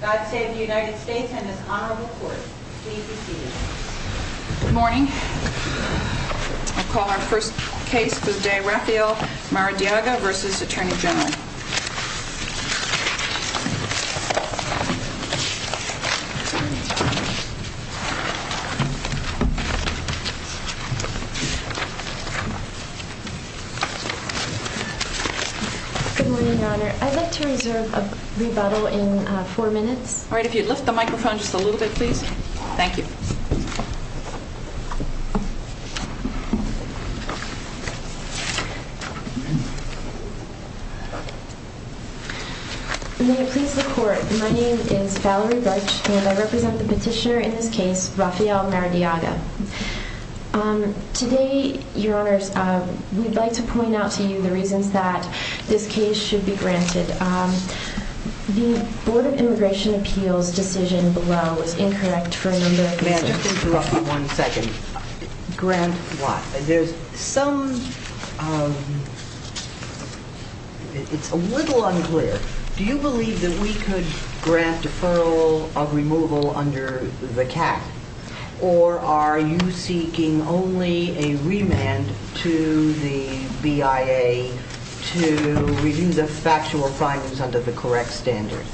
Good morning, Your Honor. I'd like to reserve a rebuttal in favor of the defendant. The defendant has been found guilty of the crime. The defendant has been found guilty of the crime. All right, if you'd lift the microphone just a little bit, please. Thank you. May it please the court, my name is Valerie Butch and I represent the petitioner in this case, Rafael Maradiaga. Today, Your Honors, we'd like to point out to you the reasons that this case should be granted. The Board of Immigration Appeals decision below is incorrect for a number of reasons. Grant what? There's some... It's a little unclear. Do you believe that we could grant deferral of removal under the CAC? Or are you seeking only a remand to the BIA to review the factual findings under the correct standard?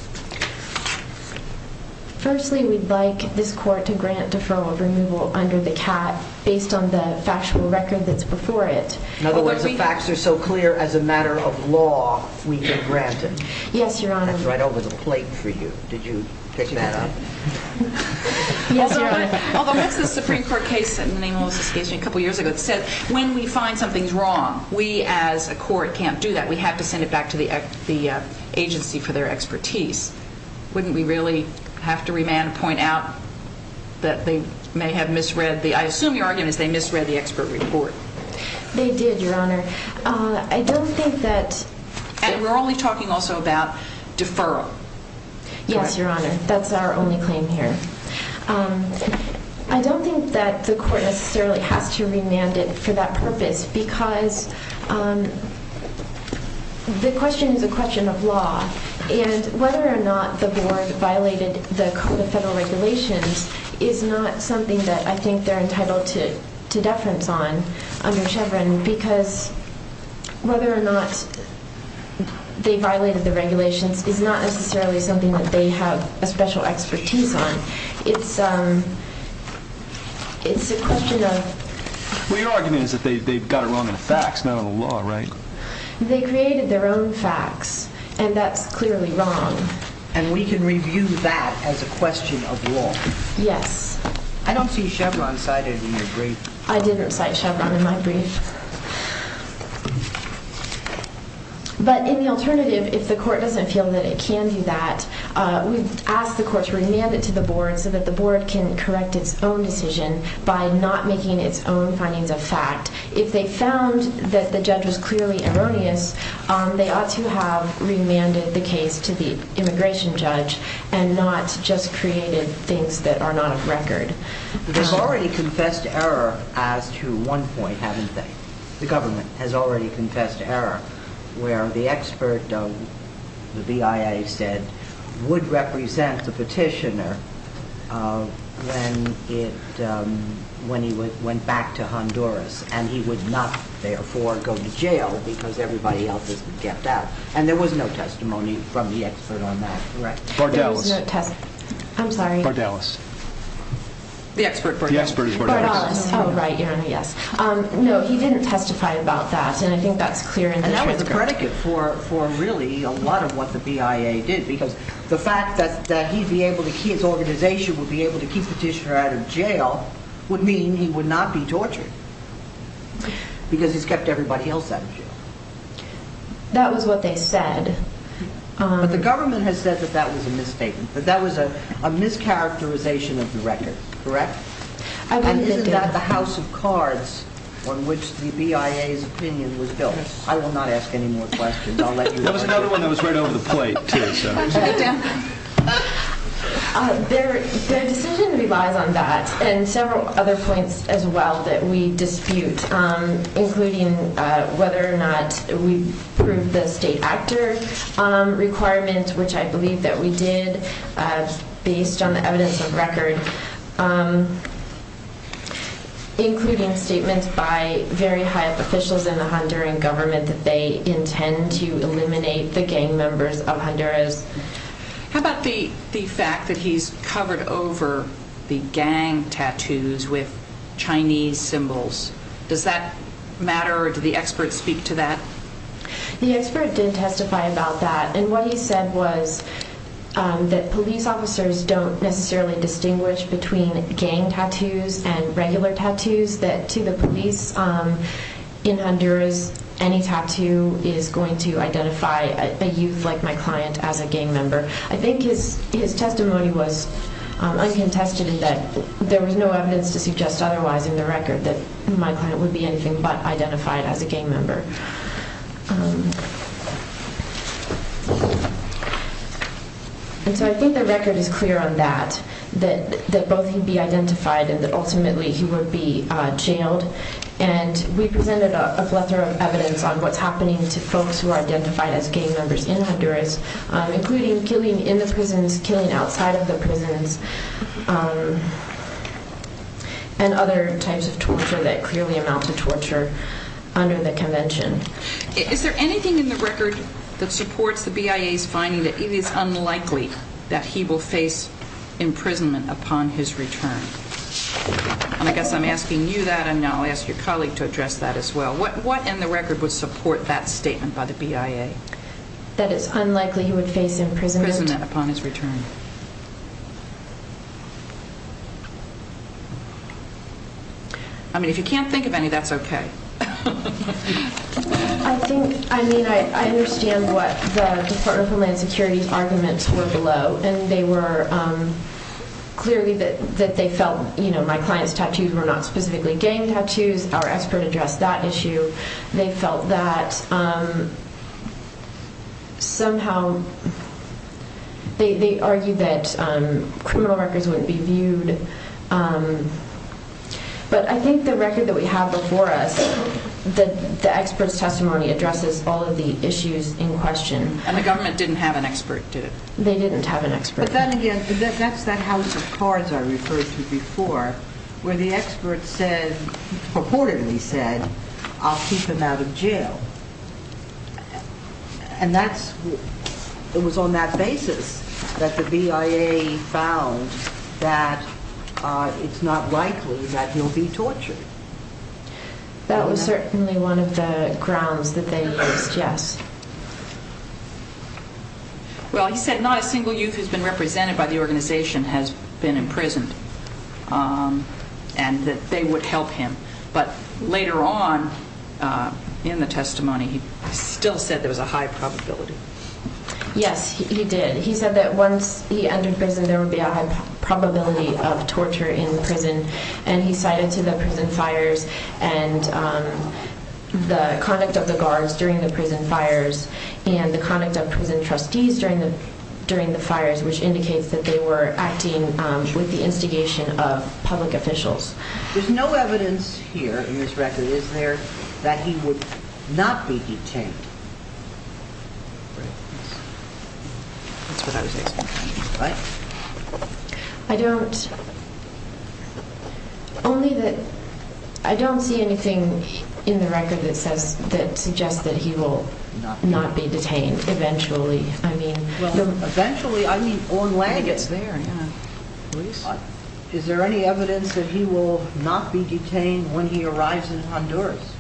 Firstly, we'd like this court to grant deferral of removal under the CAC based on the factual record that's before it. In other words, the facts are so clear as a matter of law we can grant it? Yes, Your Honor. That's right over the plate for you. Did you pick that up? Yes, Your Honor. Although what's the Supreme Court case in the name of Melissa's case a couple years ago that said when we find something's wrong, we as a court can't do that. We have to send it back to the agency for their expertise. Wouldn't we really have to remand and point out that they may have misread the... I assume your argument is they misread the expert report. They did, Your Honor. I don't think that... And we're only talking also about deferral. Yes, Your Honor. That's our only claim here. I don't think that the court necessarily has to remand it for that purpose because the question is a question of law. And whether or not the board violated the Code of Federal Regulations is not something that I think they're entitled to or they violated the regulations is not necessarily something that they have a special expertise on. It's a question of... Well, your argument is that they've got it wrong in the facts, not in the law, right? They created their own facts and that's clearly wrong. And we can review that as a question of law? Yes. I don't see Chevron cited in your brief. I didn't see any alternative if the court doesn't feel that it can do that. We've asked the court to remand it to the board so that the board can correct its own decision by not making its own findings of fact. If they found that the judge was clearly erroneous, they ought to have remanded the case to the immigration judge and not just created things that are not of record. They've already confessed error as to one point, haven't they? The government has already confessed error where the expert of the BIA said would represent the petitioner when he went back to Honduras and he would not therefore go to jail because everybody else has been kept out. And there was no testimony from the expert on that. Bardalis. The expert. Bardalis. Oh right, yes. No, he didn't testify about that and I think that's clear. And that was a predicate for really a lot of what the BIA did because the fact that his organization would be able to keep the petitioner out of jail would mean he would not be tortured because he's kept everybody else out of jail. That was what they said. But the government has said that that was a misstatement, that that was a mischaracterization of the record, correct? And isn't that the house of cards on which the BIA's opinion was built? I will not ask any more questions. There was another one that was right over the plate. Their decision relies on that and several other points as well that we dispute, including whether or not we approved the state actor requirement, which I believe that we did based on the evidence of record, including statements by very high up officials in the Honduran government that they intend to eliminate the gang members of Honduras. How about the fact that he's covered over the gang tattoos with Chinese symbols? Does that matter or did the expert speak to that? The expert did testify about that and what he said was that police officers don't necessarily distinguish between gang tattoos and regular tattoos, that to the police in Honduras any tattoo is going to identify a youth like my client as a gang member. I think his testimony was uncontested in that there was no evidence to suggest otherwise in the record that my client would be anything but identified as a gang member. And so I think the record is clear on that, that both he'd be identified and that ultimately he would be jailed and we presented a plethora of evidence on what's happening to folks who are identified as gang members in Honduras, including killing in the prisons, killing outside of the prisons and other types of torture that clearly amount to torture under the convention. Is there anything in the record that supports the BIA's finding that it is unlikely that he will face imprisonment upon his return? And I guess I'm asking you that and now I'll ask your colleague to address that as well. What in the record would support that statement by the BIA? That it's unlikely he would face imprisonment upon his return? I mean if you can't think of any that's okay. I think, I mean I understand what the Department of Homeland Security's arguments were below and they were clearly that they felt my client's tattoos were not specifically gang tattoos. Our expert addressed that issue. They felt that somehow But I think the record that we have before us, the expert's testimony addresses all of the issues in question. And the government didn't have an expert, did it? They didn't have an expert. But then again, that's that house of cards I referred to before where the expert said, purportedly said, I'll keep him out of jail. And that's, it was on that basis that the BIA found that it's not likely that he'll be tortured. That was certainly one of the grounds that they raised, yes. Well he said not a single youth who's been represented by the organization has been imprisoned. And that they would help him. But later on in the testimony he still said there was a high probability. Yes, he did. He said that once he entered prison there would be a high probability of torture in prison and he cited to the prison fires and the conduct of the guards during the prison fires and the conduct of prison trustees during the fires, which indicates that they were acting with the instigation of public officials. There's no evidence here in this record, is there, that he would not be detained? That's what I was asking. I don't only that, I don't see anything in the record that suggests that he will not be detained eventually. Eventually, I mean on landing. Is there any evidence that he will not be detained when he arrives in Honduras?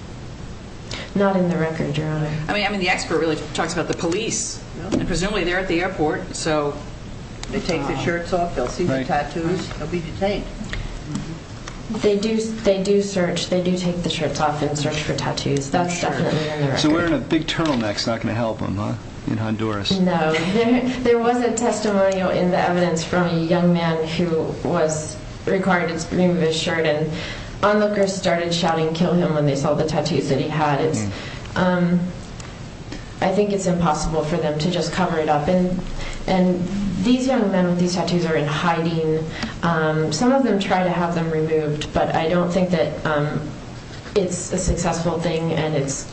Not in the record, Your Honor. I mean the expert really talks about the police. Presumably they're at the airport, so they take their shirts off, they'll see the tattoos, they'll be detained. They do search, they do take the shirts off and search for tattoos. That's definitely in the record. So wearing a big turtleneck's not going to help him, huh, in Honduras? No. There was a testimonial in the evidence from a young man who was required to remove his shirt and onlookers started shouting kill him when they saw the tattoos that he had. I think it's impossible for them to just cover it up and these young men with these tattoos are in hiding. Some of them try to have them removed, but I don't think that it's a successful thing and it's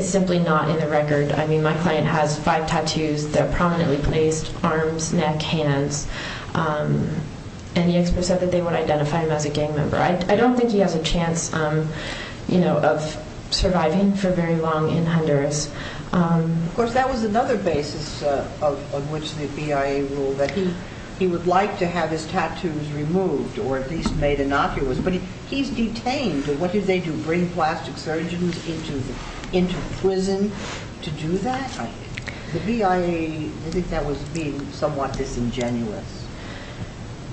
simply not in the record. I mean my client has five tattoos, they're prominently placed, arms, neck, hands, and the expert said that they would identify him as a gang member. I don't think he has a chance of surviving for very long in Honduras. Of course that was another basis on which the BIA ruled that he would like to have his tattoos removed or at least made innocuous, but he's detained. What did they do? Bring plastic surgeons into prison to do that? The BIA, I think that was being somewhat disingenuous.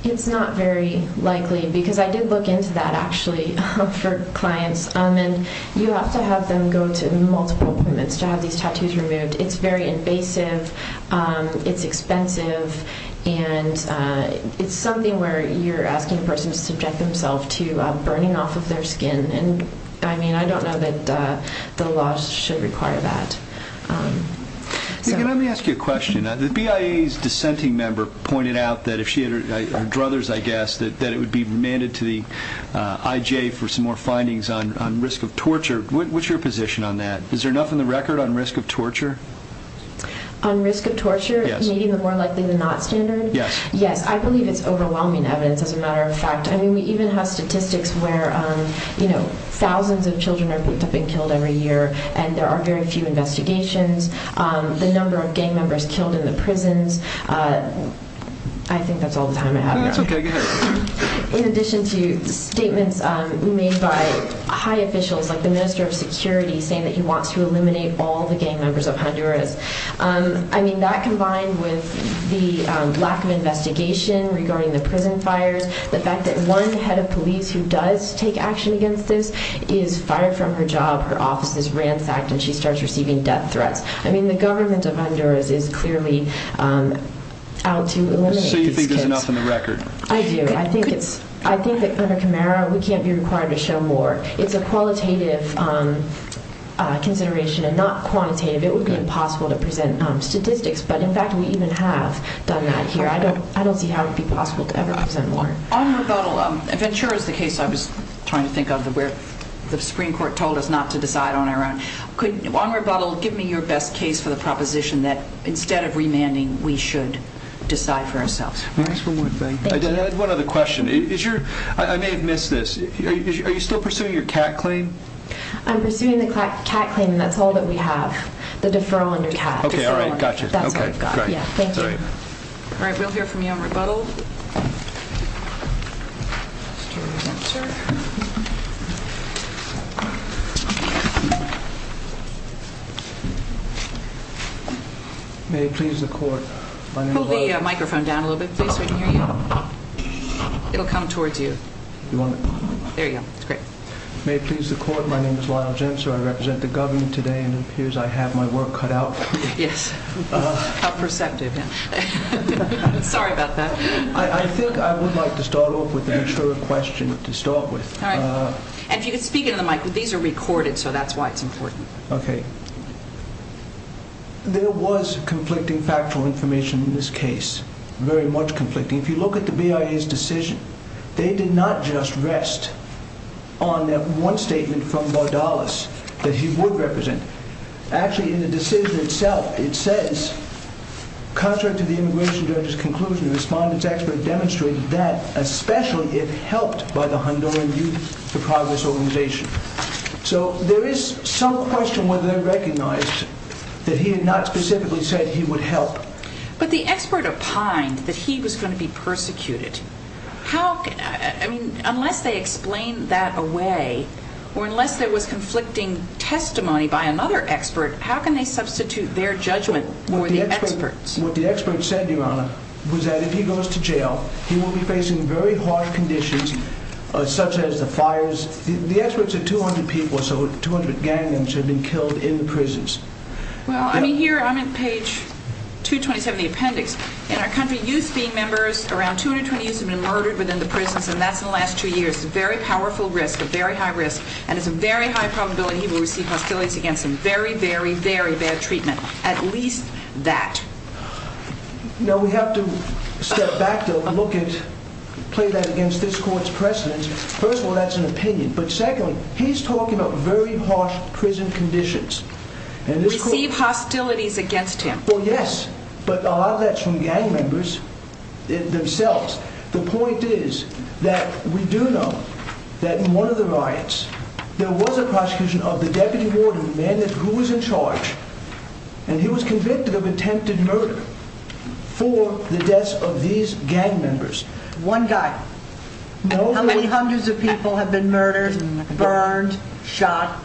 It's not very likely because I did look into that actually for clients and you have to have them go to multiple appointments to have these tattoos removed. It's very invasive, it's expensive, and it's something where you're asking a person to subject themselves to burning off of their skin and I mean I don't know that the laws should require that. Let me ask you a question. The BIA's dissenting member pointed out that if she had her druthers, I guess, that it would be remanded to the IJ for some more findings on risk of torture. What's your position on that? Is there enough in the record on risk of torture? On risk of torture? Yes. I believe it's overwhelming evidence as a matter of fact. I mean we even have statistics where thousands of children have been killed every year and there are very few investigations. The number of gang members killed in the prisons, I think that's all the time I have. That's okay, go ahead. In addition to statements made by high officials like the Minister of Security saying that he wants to eliminate all the gang members of Honduras. I mean that combined with the lack of investigation regarding the prison fires, the fact that one head of police who does take action against this is fired from her job, her office is ransacked and she starts receiving death threats. I mean the government of Honduras is clearly out to eliminate these kids. So you think there's enough in the record? I do. I think that under Camara we can't be required to show more. It's a qualitative consideration and not quantitative. It would be impossible to present statistics but in fact we even have done that here. I don't see how it would be possible to ever present more. On rebuttal, Ventura is the case I was trying to think of where the Supreme Court told us not to decide on our own. On rebuttal, give me your best case for the proposition that instead of remanding we should decide for ourselves. I had one other question. I may have missed this. Are you still pursuing your CAT claim? I'm pursuing the CAT claim and that's all that we have. The deferral under CAT. Okay, alright, gotcha. Thank you. Alright, we'll hear from you on rebuttal. May it please the court. Hold the microphone down a little bit please so we can hear you. It'll come towards you. There you go. May it please the court. My name is Lyle Jenser. I represent the government today and it appears I have my work cut out for me. Yes, how perceptive. Sorry about that. I think I would like to start off with the Ventura question to start with. And if you could speak into the mic. These are recorded so that's why it's important. Okay. There was conflicting factual information in this case. Very much conflicting. If you look at the BIA's decision, they did not just rest on that one statement from Bardalis that he would represent. Actually, in the decision itself, it says, contrary to the immigration judge's conclusion, the respondent's expert demonstrated that, especially if helped by the Honduran Youth for Progress organization. So there is some question whether they recognized that he had not specifically said he would help. But the expert opined that he was going to be persecuted. Unless they explained that away, or unless there was conflicting testimony by another expert, how can they substitute their judgment for the expert's? What the expert said, Your Honor, was that if he goes to jail, he will be facing very harsh conditions such as the fires. The expert said 200 people, so 200 gang members have been killed in the prisons. In our country, youth being members, around 220 youth have been murdered within the prisons and that's in the last two years. A very powerful risk, a very high risk, and it's a very high probability that he will receive hostilities against him. Very, very, very bad treatment. At least that. Now, we have to step back to look at, play that against this court's precedence. First of all, that's an opinion. But secondly, he's talking about very harsh prison conditions. Receive hostilities against him. Well, yes, but a lot of that's from gang members themselves. The point is that we do know that in one of the riots, there was a prosecution of the deputy warden who was in charge, and he was convicted of attempted murder for the deaths of these gang members. One guy? How many hundreds of people have been murdered, burned, shot?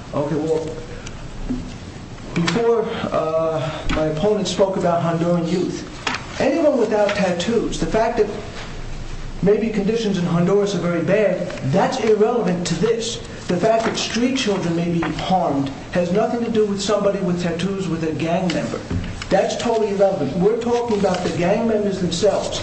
Before my opponent spoke about Honduran youth, anyone without tattoos, the fact that maybe conditions in Honduras are very bad, that's irrelevant to this. The fact that street children may be harmed has nothing to do with somebody with tattoos with a gang member. That's totally irrelevant. We're talking about the gang members themselves,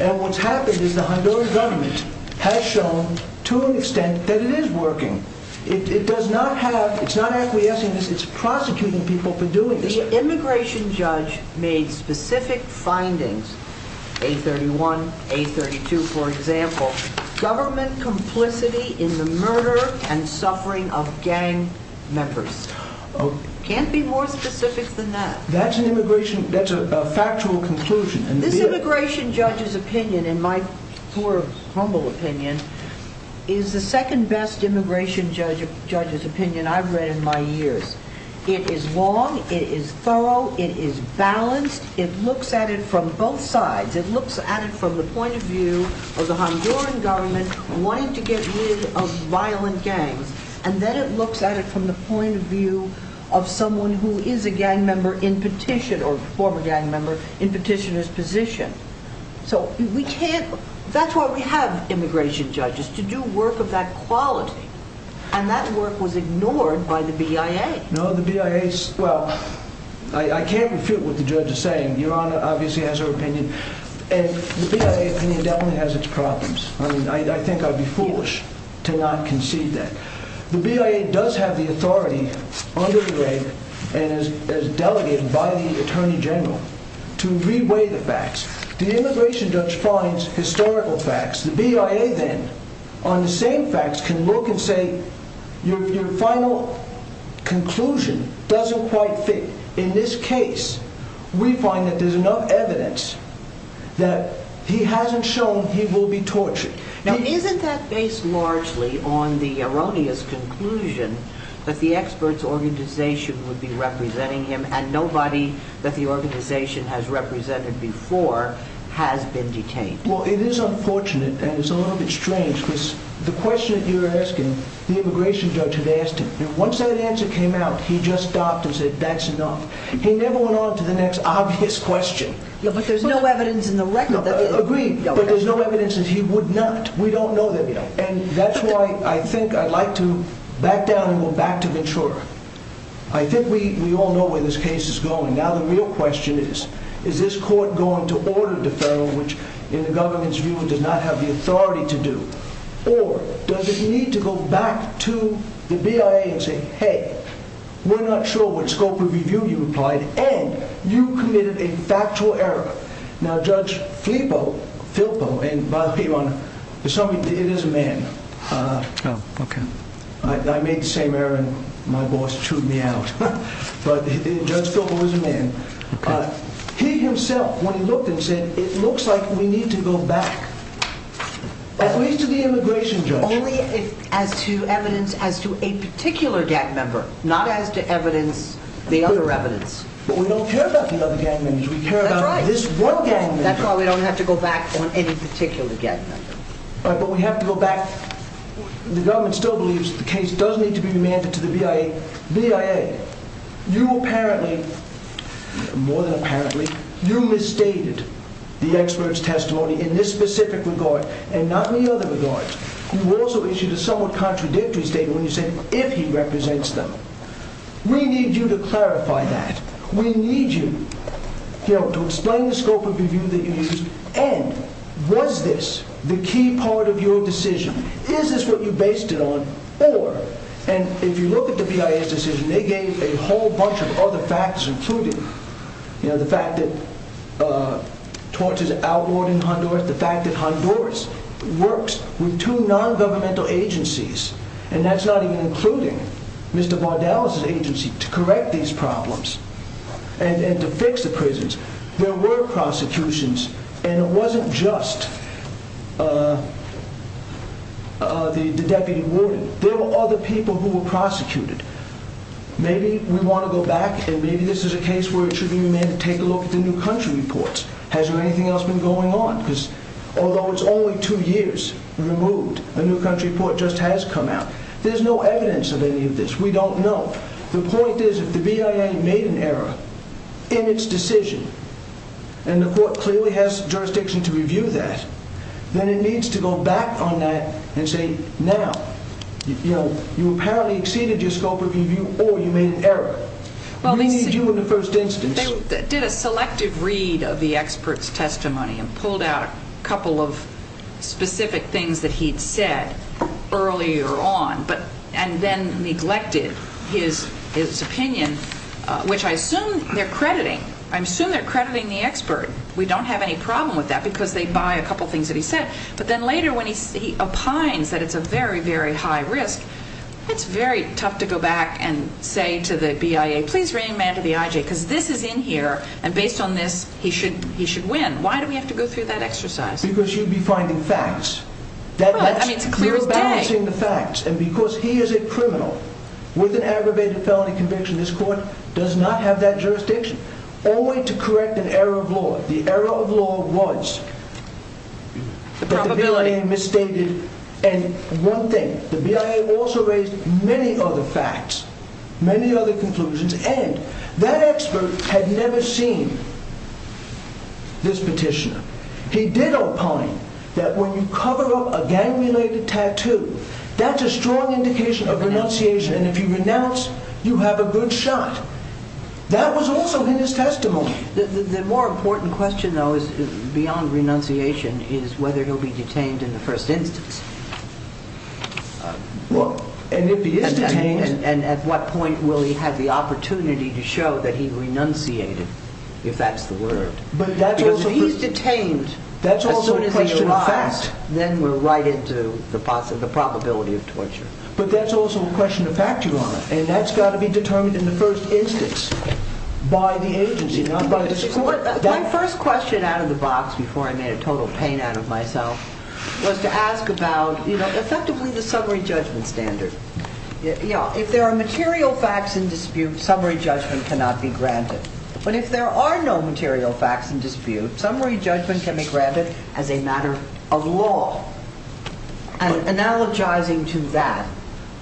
and what's happened is the Honduran government has shown to an extent that it is working. It does not have, it's not acquiescing, it's prosecuting people for doing this. The immigration judge made specific findings, A31, A32, for example, government complicity in the murder and suffering of gang members. Can't be more specific than that. That's a factual conclusion. This immigration judge's opinion, in my humble opinion, is the second best immigration judge's opinion I've read in my years. It is long, it is thorough, it is balanced, it looks at it from both sides. It looks at it from the point of view of the Honduran government wanting to get rid of violent gangs, and then it looks at it from the point of view of someone who is a gang member in petition, or former gang member in petitioner's position. So we can't, that's why we have immigration judges, to do work of that quality, and that work was ignored by the BIA. No, the BIA, well, I can't refute what the judge is saying. Your Honor obviously has her opinion. And the BIA opinion definitely has its problems. I mean, I think I'd be foolish to not concede that. The BIA does have the authority under the reg, and is delegated by the Attorney General, to re-weigh the facts. The immigration judge finds historical facts. The BIA then, on the same facts, can look and say, your final conclusion doesn't quite fit. In this case, we find that there's enough evidence that he hasn't shown he will be tortured. Now, isn't that based largely on the erroneous conclusion that the experts organization would be representing him, and nobody that the organization has represented before has been detained? Well, it is unfortunate, and it's a little bit strange, because the question that you're asking, the immigration judge had asked him. Once that answer came out, he just stopped and said, that's enough. He never went on to the next obvious question. Agreed, but there's no evidence that he would not. We don't know that yet. And that's why I think I'd like to back down and go back to Ventura. I think we all know where this case is going. Now, the real question is, is this court going to order deferral, which, in the government's view, does not have the authority to do, or does it need to go back to the BIA and say, hey, we're not sure what scope of review you implied, and you committed a factual error. Now, Judge Filpo, and by the way, Your Honor, it is a man. I made the same error, and my boss chewed me out. But Judge Filpo is a man. He himself, when he looked and said, it looks like we need to go back, at least to the immigration judge. Only as to evidence as to a particular gang member, not as to evidence the other evidence. But we don't care about the other gang members. We care about this one gang member. That's why we don't have to go back on any particular gang member. But we have to go back. The government still believes the case does need to be remanded to the BIA. BIA, you apparently, more than apparently, you misstated the expert's testimony in this specific regard, and not in the other regards. You also issued a somewhat contradictory statement when you said, if he represents them. We need you to clarify that. We need you to explain the scope of review that you used, and was this the key part of your decision? Is this what you based it on? If you look at the BIA's decision, they gave a whole bunch of other facts, including the fact that torches are outlawed in Honduras, the fact that Honduras works with two non-governmental agencies, and that's not even including Mr. Bardella's agency, to correct these problems, and to fix the prisons. There were prosecutions, and it wasn't just the deputy warden. There were other people who were prosecuted. Maybe we want to go back, and maybe this is a case where it should be remanded to take a look at the new country reports. Has there anything else been going on? Because although it's only two years removed, a new country report just has come out, there's no evidence of any of this. We don't know. The point is, if the BIA made an error in its decision, and the court clearly has jurisdiction to review that, then it needs to go back on that and say, now, you apparently exceeded your scope of review, or you made an error. We need you in the first instance. They did a selective read of the expert's testimony, and pulled out a couple of specific things that he'd said earlier on, and then neglected his opinion, which I assume they're crediting. I assume they're crediting the expert. We don't have any problem with that, because they buy a couple things that he said. But then later, when he opines that it's a very, very high risk, it's very tough to go back and say to the BIA, please remand to the IJ, because this is in here, and based on this, he should win. Why do we have to go through that exercise? Because you'd be finding facts. You're balancing the facts, and because he is a criminal with an aggravated felony conviction, this court does not have that jurisdiction. Only to correct an error of law. The error of law was that the BIA misstated one thing. The BIA also raised many other facts, many other conclusions, and that expert had never seen this petitioner. He did opine that when you cover up a gang-related tattoo, that's a strong indication of renunciation, and if you renounce, you have a good shot. That was also in his testimony. The more important question, though, beyond renunciation, is whether he'll be detained in the first instance. And at what point will he have the opportunity to show that he renunciated, if that's the word. Because if he's detained, as soon as he arrives, then we're right into the possibility of torture. But that's also a question of fact, Your Honor, and that's got to be determined in the first instance by the agency, not by the court. My first question out of the box before I made a total pain out of myself was to ask about, effectively, the summary judgment standard. If there are material facts in dispute, summary judgment cannot be granted. But if there are no material facts in dispute, summary judgment can be granted as a matter of law. And analogizing to that,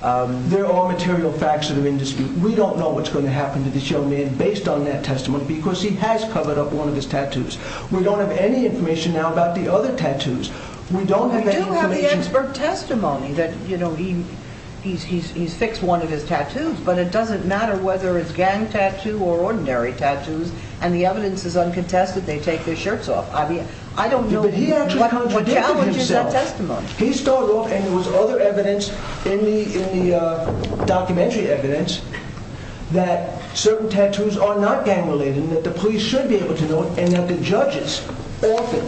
there are material facts that are in dispute. We don't know what's going to happen to this young man based on that testimony, because he has covered up one of his tattoos. We don't have any information now about the other tattoos. We don't have any information. We do have the expert testimony that he's fixed one of his tattoos, but it doesn't matter whether it's gang tattoo or ordinary tattoos, and the evidence is uncontested, they take their shirts off. I don't know what challenges that testimony. But he actually contradicted himself. He started off, and there was other evidence in the documentary evidence, that certain tattoos are not gang related, and that the police should be able to know it, and that the judges often,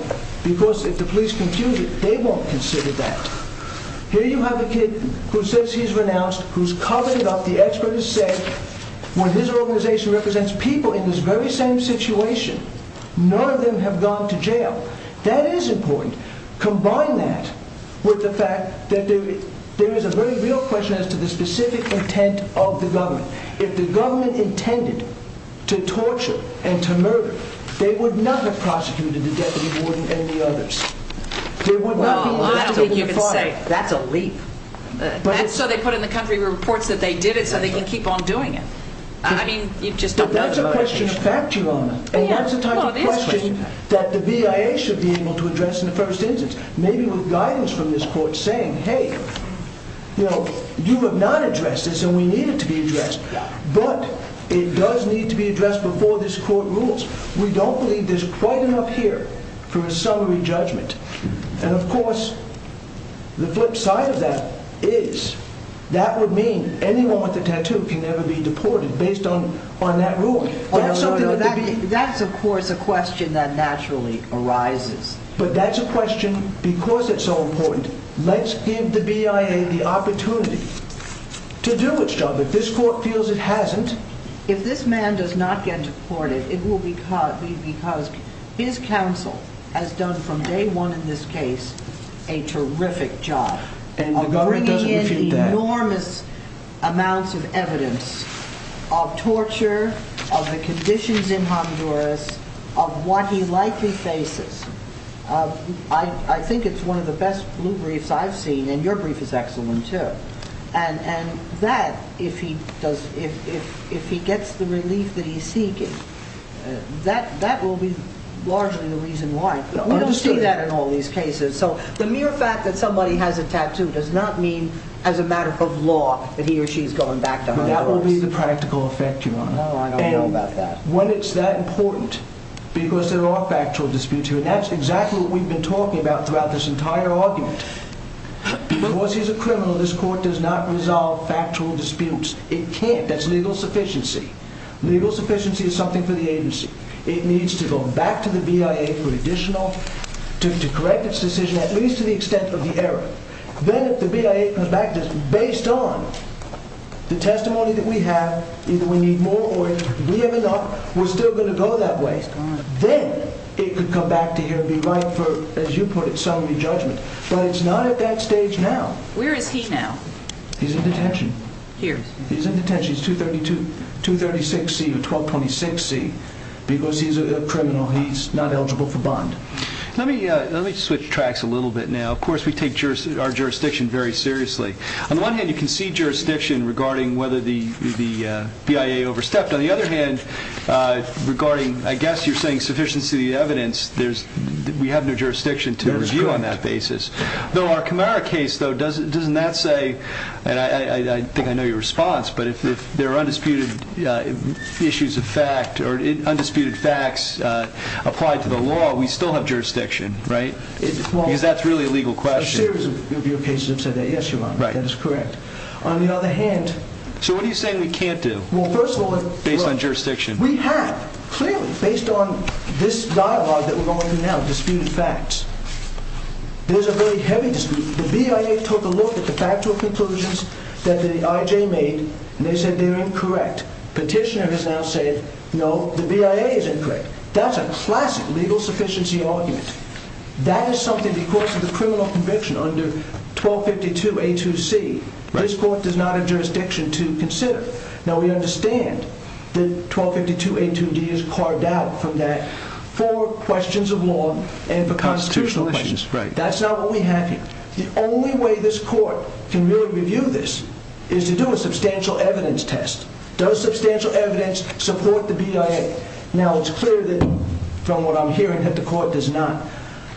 because if the police confuse it, they won't consider that. Here you have a kid who says he's renounced, who's covered it up. The expert has said, when his organization represents people in this very same situation, none of them have gone to jail. That is important. Combine that with the fact that there is a very real question as to the specific intent of the government. If the government intended to torture and to murder, they would not have prosecuted the deputy warden and the others. That's so they put in the country reports that they did it, so they can keep on doing it. That's a question of fact, Your Honor, and that's a type of question that the BIA should be able to address in the first instance. Maybe with guidance from this court saying, hey, you have not addressed this, and we need it to be addressed, but it does need to be addressed before this court rules. We don't believe there's quite enough here for a summary judgment. Of course, the flip side of that is that would mean anyone with a tattoo can never be deported based on that rule. That's something that the BIA... That's, of course, a question that naturally arises. That's a question, because it's so important, let's give the BIA the opportunity to do its job. If this court feels it hasn't... If this man does not get deported, it will be because his counsel has done, from day one in this case, a terrific job of bringing in enormous amounts of evidence of torture, of the conditions in Honduras, of what he likely faces. I think it's one of the best blue briefs I've seen, and your brief is excellent, too. And that, if he gets the relief that he's seeking, that will be largely the reason why. We don't see that in all these cases, so the mere fact that somebody has a tattoo does not mean as a matter of law that he or she is going back to Honduras. That will be the practical effect, Your Honor. And when it's that important, because there are factual disputes here, and that's exactly what we've been talking about throughout this entire argument. Because he's a criminal, this court does not resolve factual disputes. It can't. That's legal sufficiency. Legal sufficiency is something for the agency. It needs to go back to the BIA for additional... to correct its decision, at least to the extent of the error. Then, if the BIA comes back to this, based on the testimony that we have, either we need more or we have enough, we're still going to go that way, then it could come back to here and be right for, as you put it, summary judgment. But it's not at that stage now. Where is he now? He's in detention. Here. He's in detention. It's 236C or 1226C, because he's a criminal. He's not eligible for bond. Let me switch tracks a little bit now. Of course, we take our jurisdiction very seriously. On the one hand, you can see jurisdiction regarding whether the BIA overstepped. On the other hand, regarding, I guess you're saying, sufficiency of the evidence, we have no jurisdiction to review on that basis. Though our Camara case, though, doesn't that say, and I think I know your response, but if there are undisputed issues of fact or undisputed facts applied to the law, we still have jurisdiction, right? Because that's really a legal question. A series of your cases have said that. Yes, Your Honor. That is correct. On the other hand... So what are you saying we can't do, based on jurisdiction? We have, clearly, based on this dialogue that we're going through now, disputed facts. There's a very heavy dispute. The BIA took a look at the factual conclusions that the IJ made, and they said they're incorrect. Petitioner has now said, no, the BIA is incorrect. That's a classic legal sufficiency argument. That is something, because of the criminal conviction under 1252A2C, this court does not have jurisdiction to consider. Now, we understand that 1252A2D is carved out from that for questions of law and for constitutional issues. That's not what we have here. The only way this court can really review this is to do a substantial evidence test. Does substantial evidence support the BIA? Now, it's clear that, from what I'm hearing, that the court does not.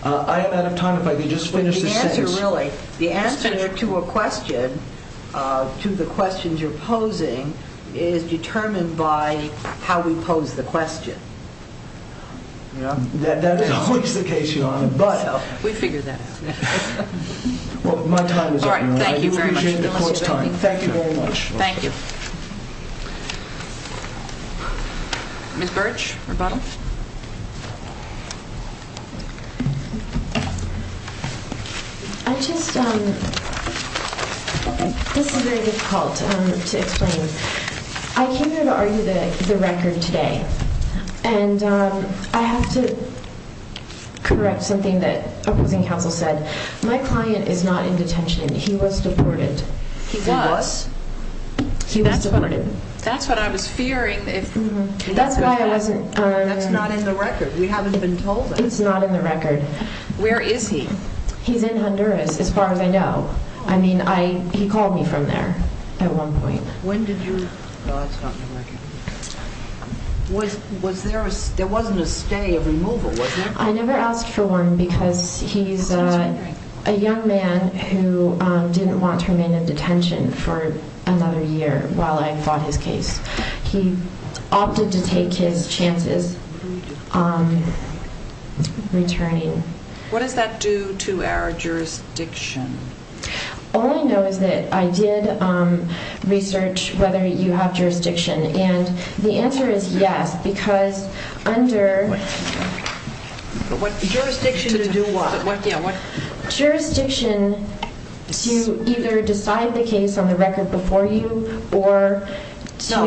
I am out of time, if I could just finish this sentence. The answer, really, the answer to a question, to the questions you're posing, is determined by how we pose the question. That is always the case, Your Honor. We figure that out. Thank you very much. Ms. Birch, rebuttal. This is very difficult to explain. I came here to argue the record today, and I have to correct something that opposing counsel said. My client is not in detention. He was deported. He was? He was deported. That's what I was fearing. That's not in the record. We haven't been told that. It's not in the record. Where is he? He's in Honduras, as far as I know. He called me from there at one point. There wasn't a stay, a removal, was there? I never asked for one because he's a young man who didn't want to remain in detention for another year while I fought his case. He opted to take his chances returning. What does that do to our jurisdiction? All I know is that I did research whether you have jurisdiction, and the answer is yes because under jurisdiction to do what?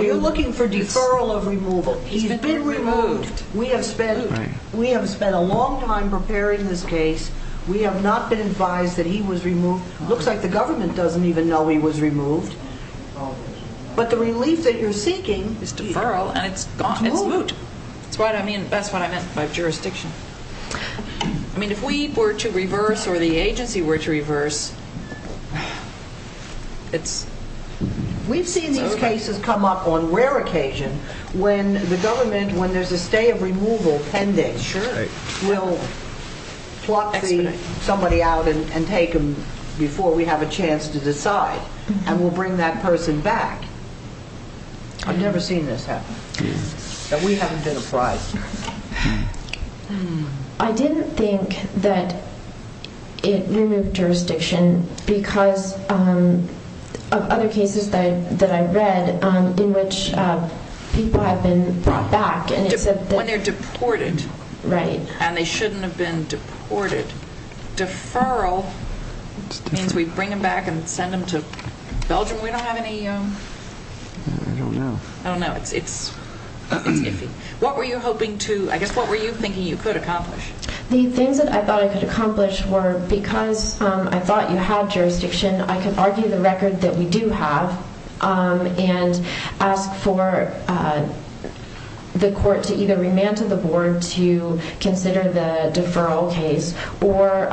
You're looking for deferral of removal. He's been removed. We have spent a long time preparing this case. We have not been advised that he was removed. Looks like the government doesn't even know he was removed, but the relief that you're seeking is deferral, and it's gone. It's moot. That's what I meant by jurisdiction. If we were to reverse, or the agency were to reverse, we've seen these cases come up on rare occasion when the government, when there's a stay of removal pending, we'll pluck somebody out and take them before we have a chance to decide, and we'll bring that person back. I've never seen this happen. We haven't been advised. I didn't think that it removed jurisdiction because of other cases that I read in which people have been brought back. When they're deported, and they shouldn't have been deported, deferral means we bring them back and send them to Belgium. We don't have any... I don't know. What were you hoping to... I guess, what were you thinking you could accomplish? The things that I thought I could accomplish were, because I thought you had jurisdiction, I could argue the record that we do have and ask for the court to either remand to the board to consider the deferral case or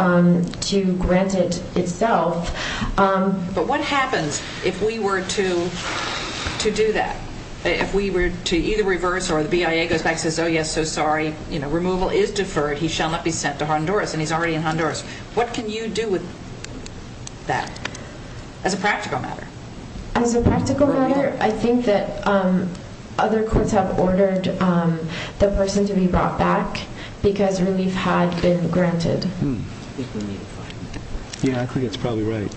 to grant it itself. But what happens if we were to do that, if we were to either reverse or the BIA goes back and says, oh yes, so sorry, removal is deferred, he shall not be sent to Honduras, and he's already in Honduras. What can you do with that as a practical matter? As a practical matter, I think that other courts have ordered the person to be brought back because relief had been granted. Yeah, I think that's probably right.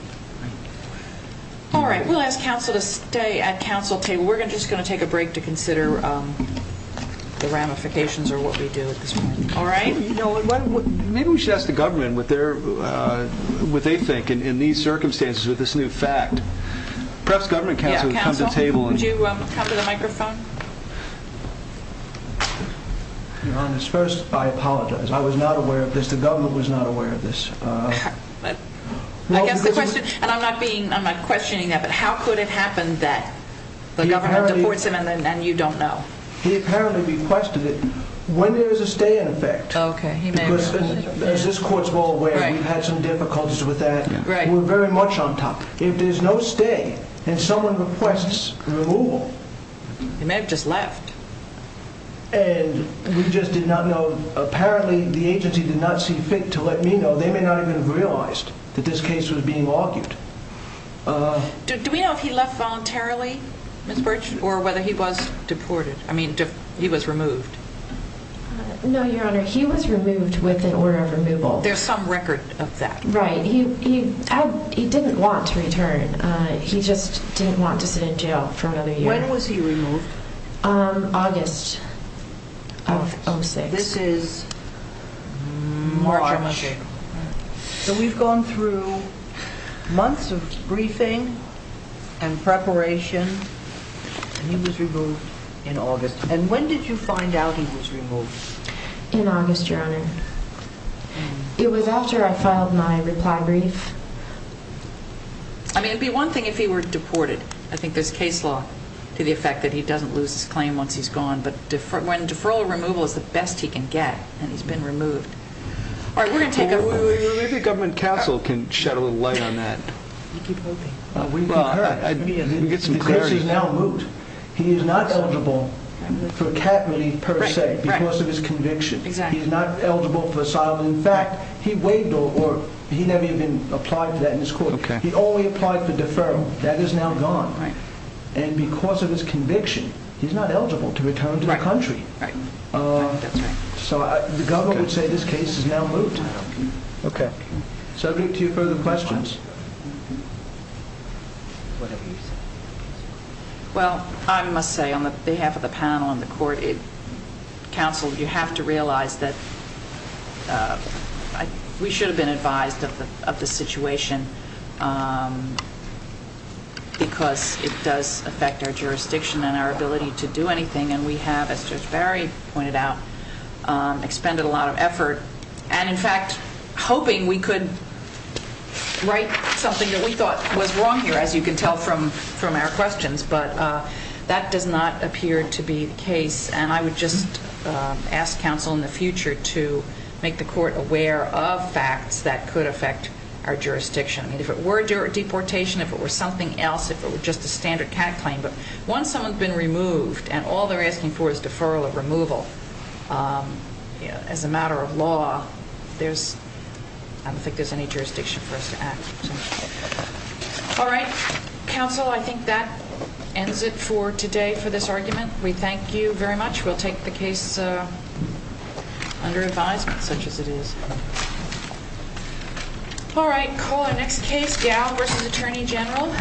Alright, we'll ask council to stay at council table. We're just going to take a break to consider the ramifications of what we do at this point. Maybe we should ask the government what they think in these circumstances with this new fact. Perhaps government council can come to the table. Your Honor, first I apologize. I was not aware of this. The government was not aware of this. I'm not questioning that, but how could it happen that the government deports him and you don't know? He apparently requested it. When there is a stay in effect, as this court is well aware, we've had some difficulties with that. We're very much on top. If there's no stay and someone requests removal, he may have just left. Apparently the agency did not see fit to let me know. They may not have even realized that this case was being argued. Do we know if he left voluntarily, Ms. Burch, or whether he was removed? No, Your Honor. He was removed with an order of removal. There's some record of that. Right. He didn't want to return. He just didn't want to sit in jail for another year. When was he removed? August of 06. This is March. So we've gone through months of briefing and preparation, and he was removed in August. And when did you find out he was removed? In August, Your Honor. It was after I filed my reply brief. I mean, it would be one thing if he were deported. I think there's case law to the effect that he doesn't lose his claim once he's gone, but when deferral or removal is the best he can get and he's been removed. All right, we're going to take a... Maybe Government Castle can shed a little light on that. We can get some clarity. The case is now moot. He is not eligible for cap relief per se because of his conviction. He's not eligible for asylum. In fact, he never even applied for that in his court. He only applied for deferral. That is now gone. And because of his conviction, he's not eligible to return to the country. So the government would say this case is now moot. Subject to further questions? Well, I must say, on behalf of the panel and the court, counsel, you have to realize that we should have been advised of the situation because it does affect our jurisdiction and our ability to do anything. And we have, as Judge Barry pointed out, expended a lot of effort. And in fact, hoping we could write something that we thought was wrong here, as you can tell from our questions. But that does not appear to be the case. And I would just ask counsel in the future to make the court aware of facts that could affect our jurisdiction. I mean, if it were deportation, if it were something else, if it were just a standard cat claim. But once someone's been removed and all they're asking for is deferral or removal as a matter of law, I don't think there's any jurisdiction for us to act. All right. Counsel, I think that ends it for today for this argument. We thank you very much. We'll take the case under advisement, such as it is. All right. Call our next case. Gail versus Attorney General.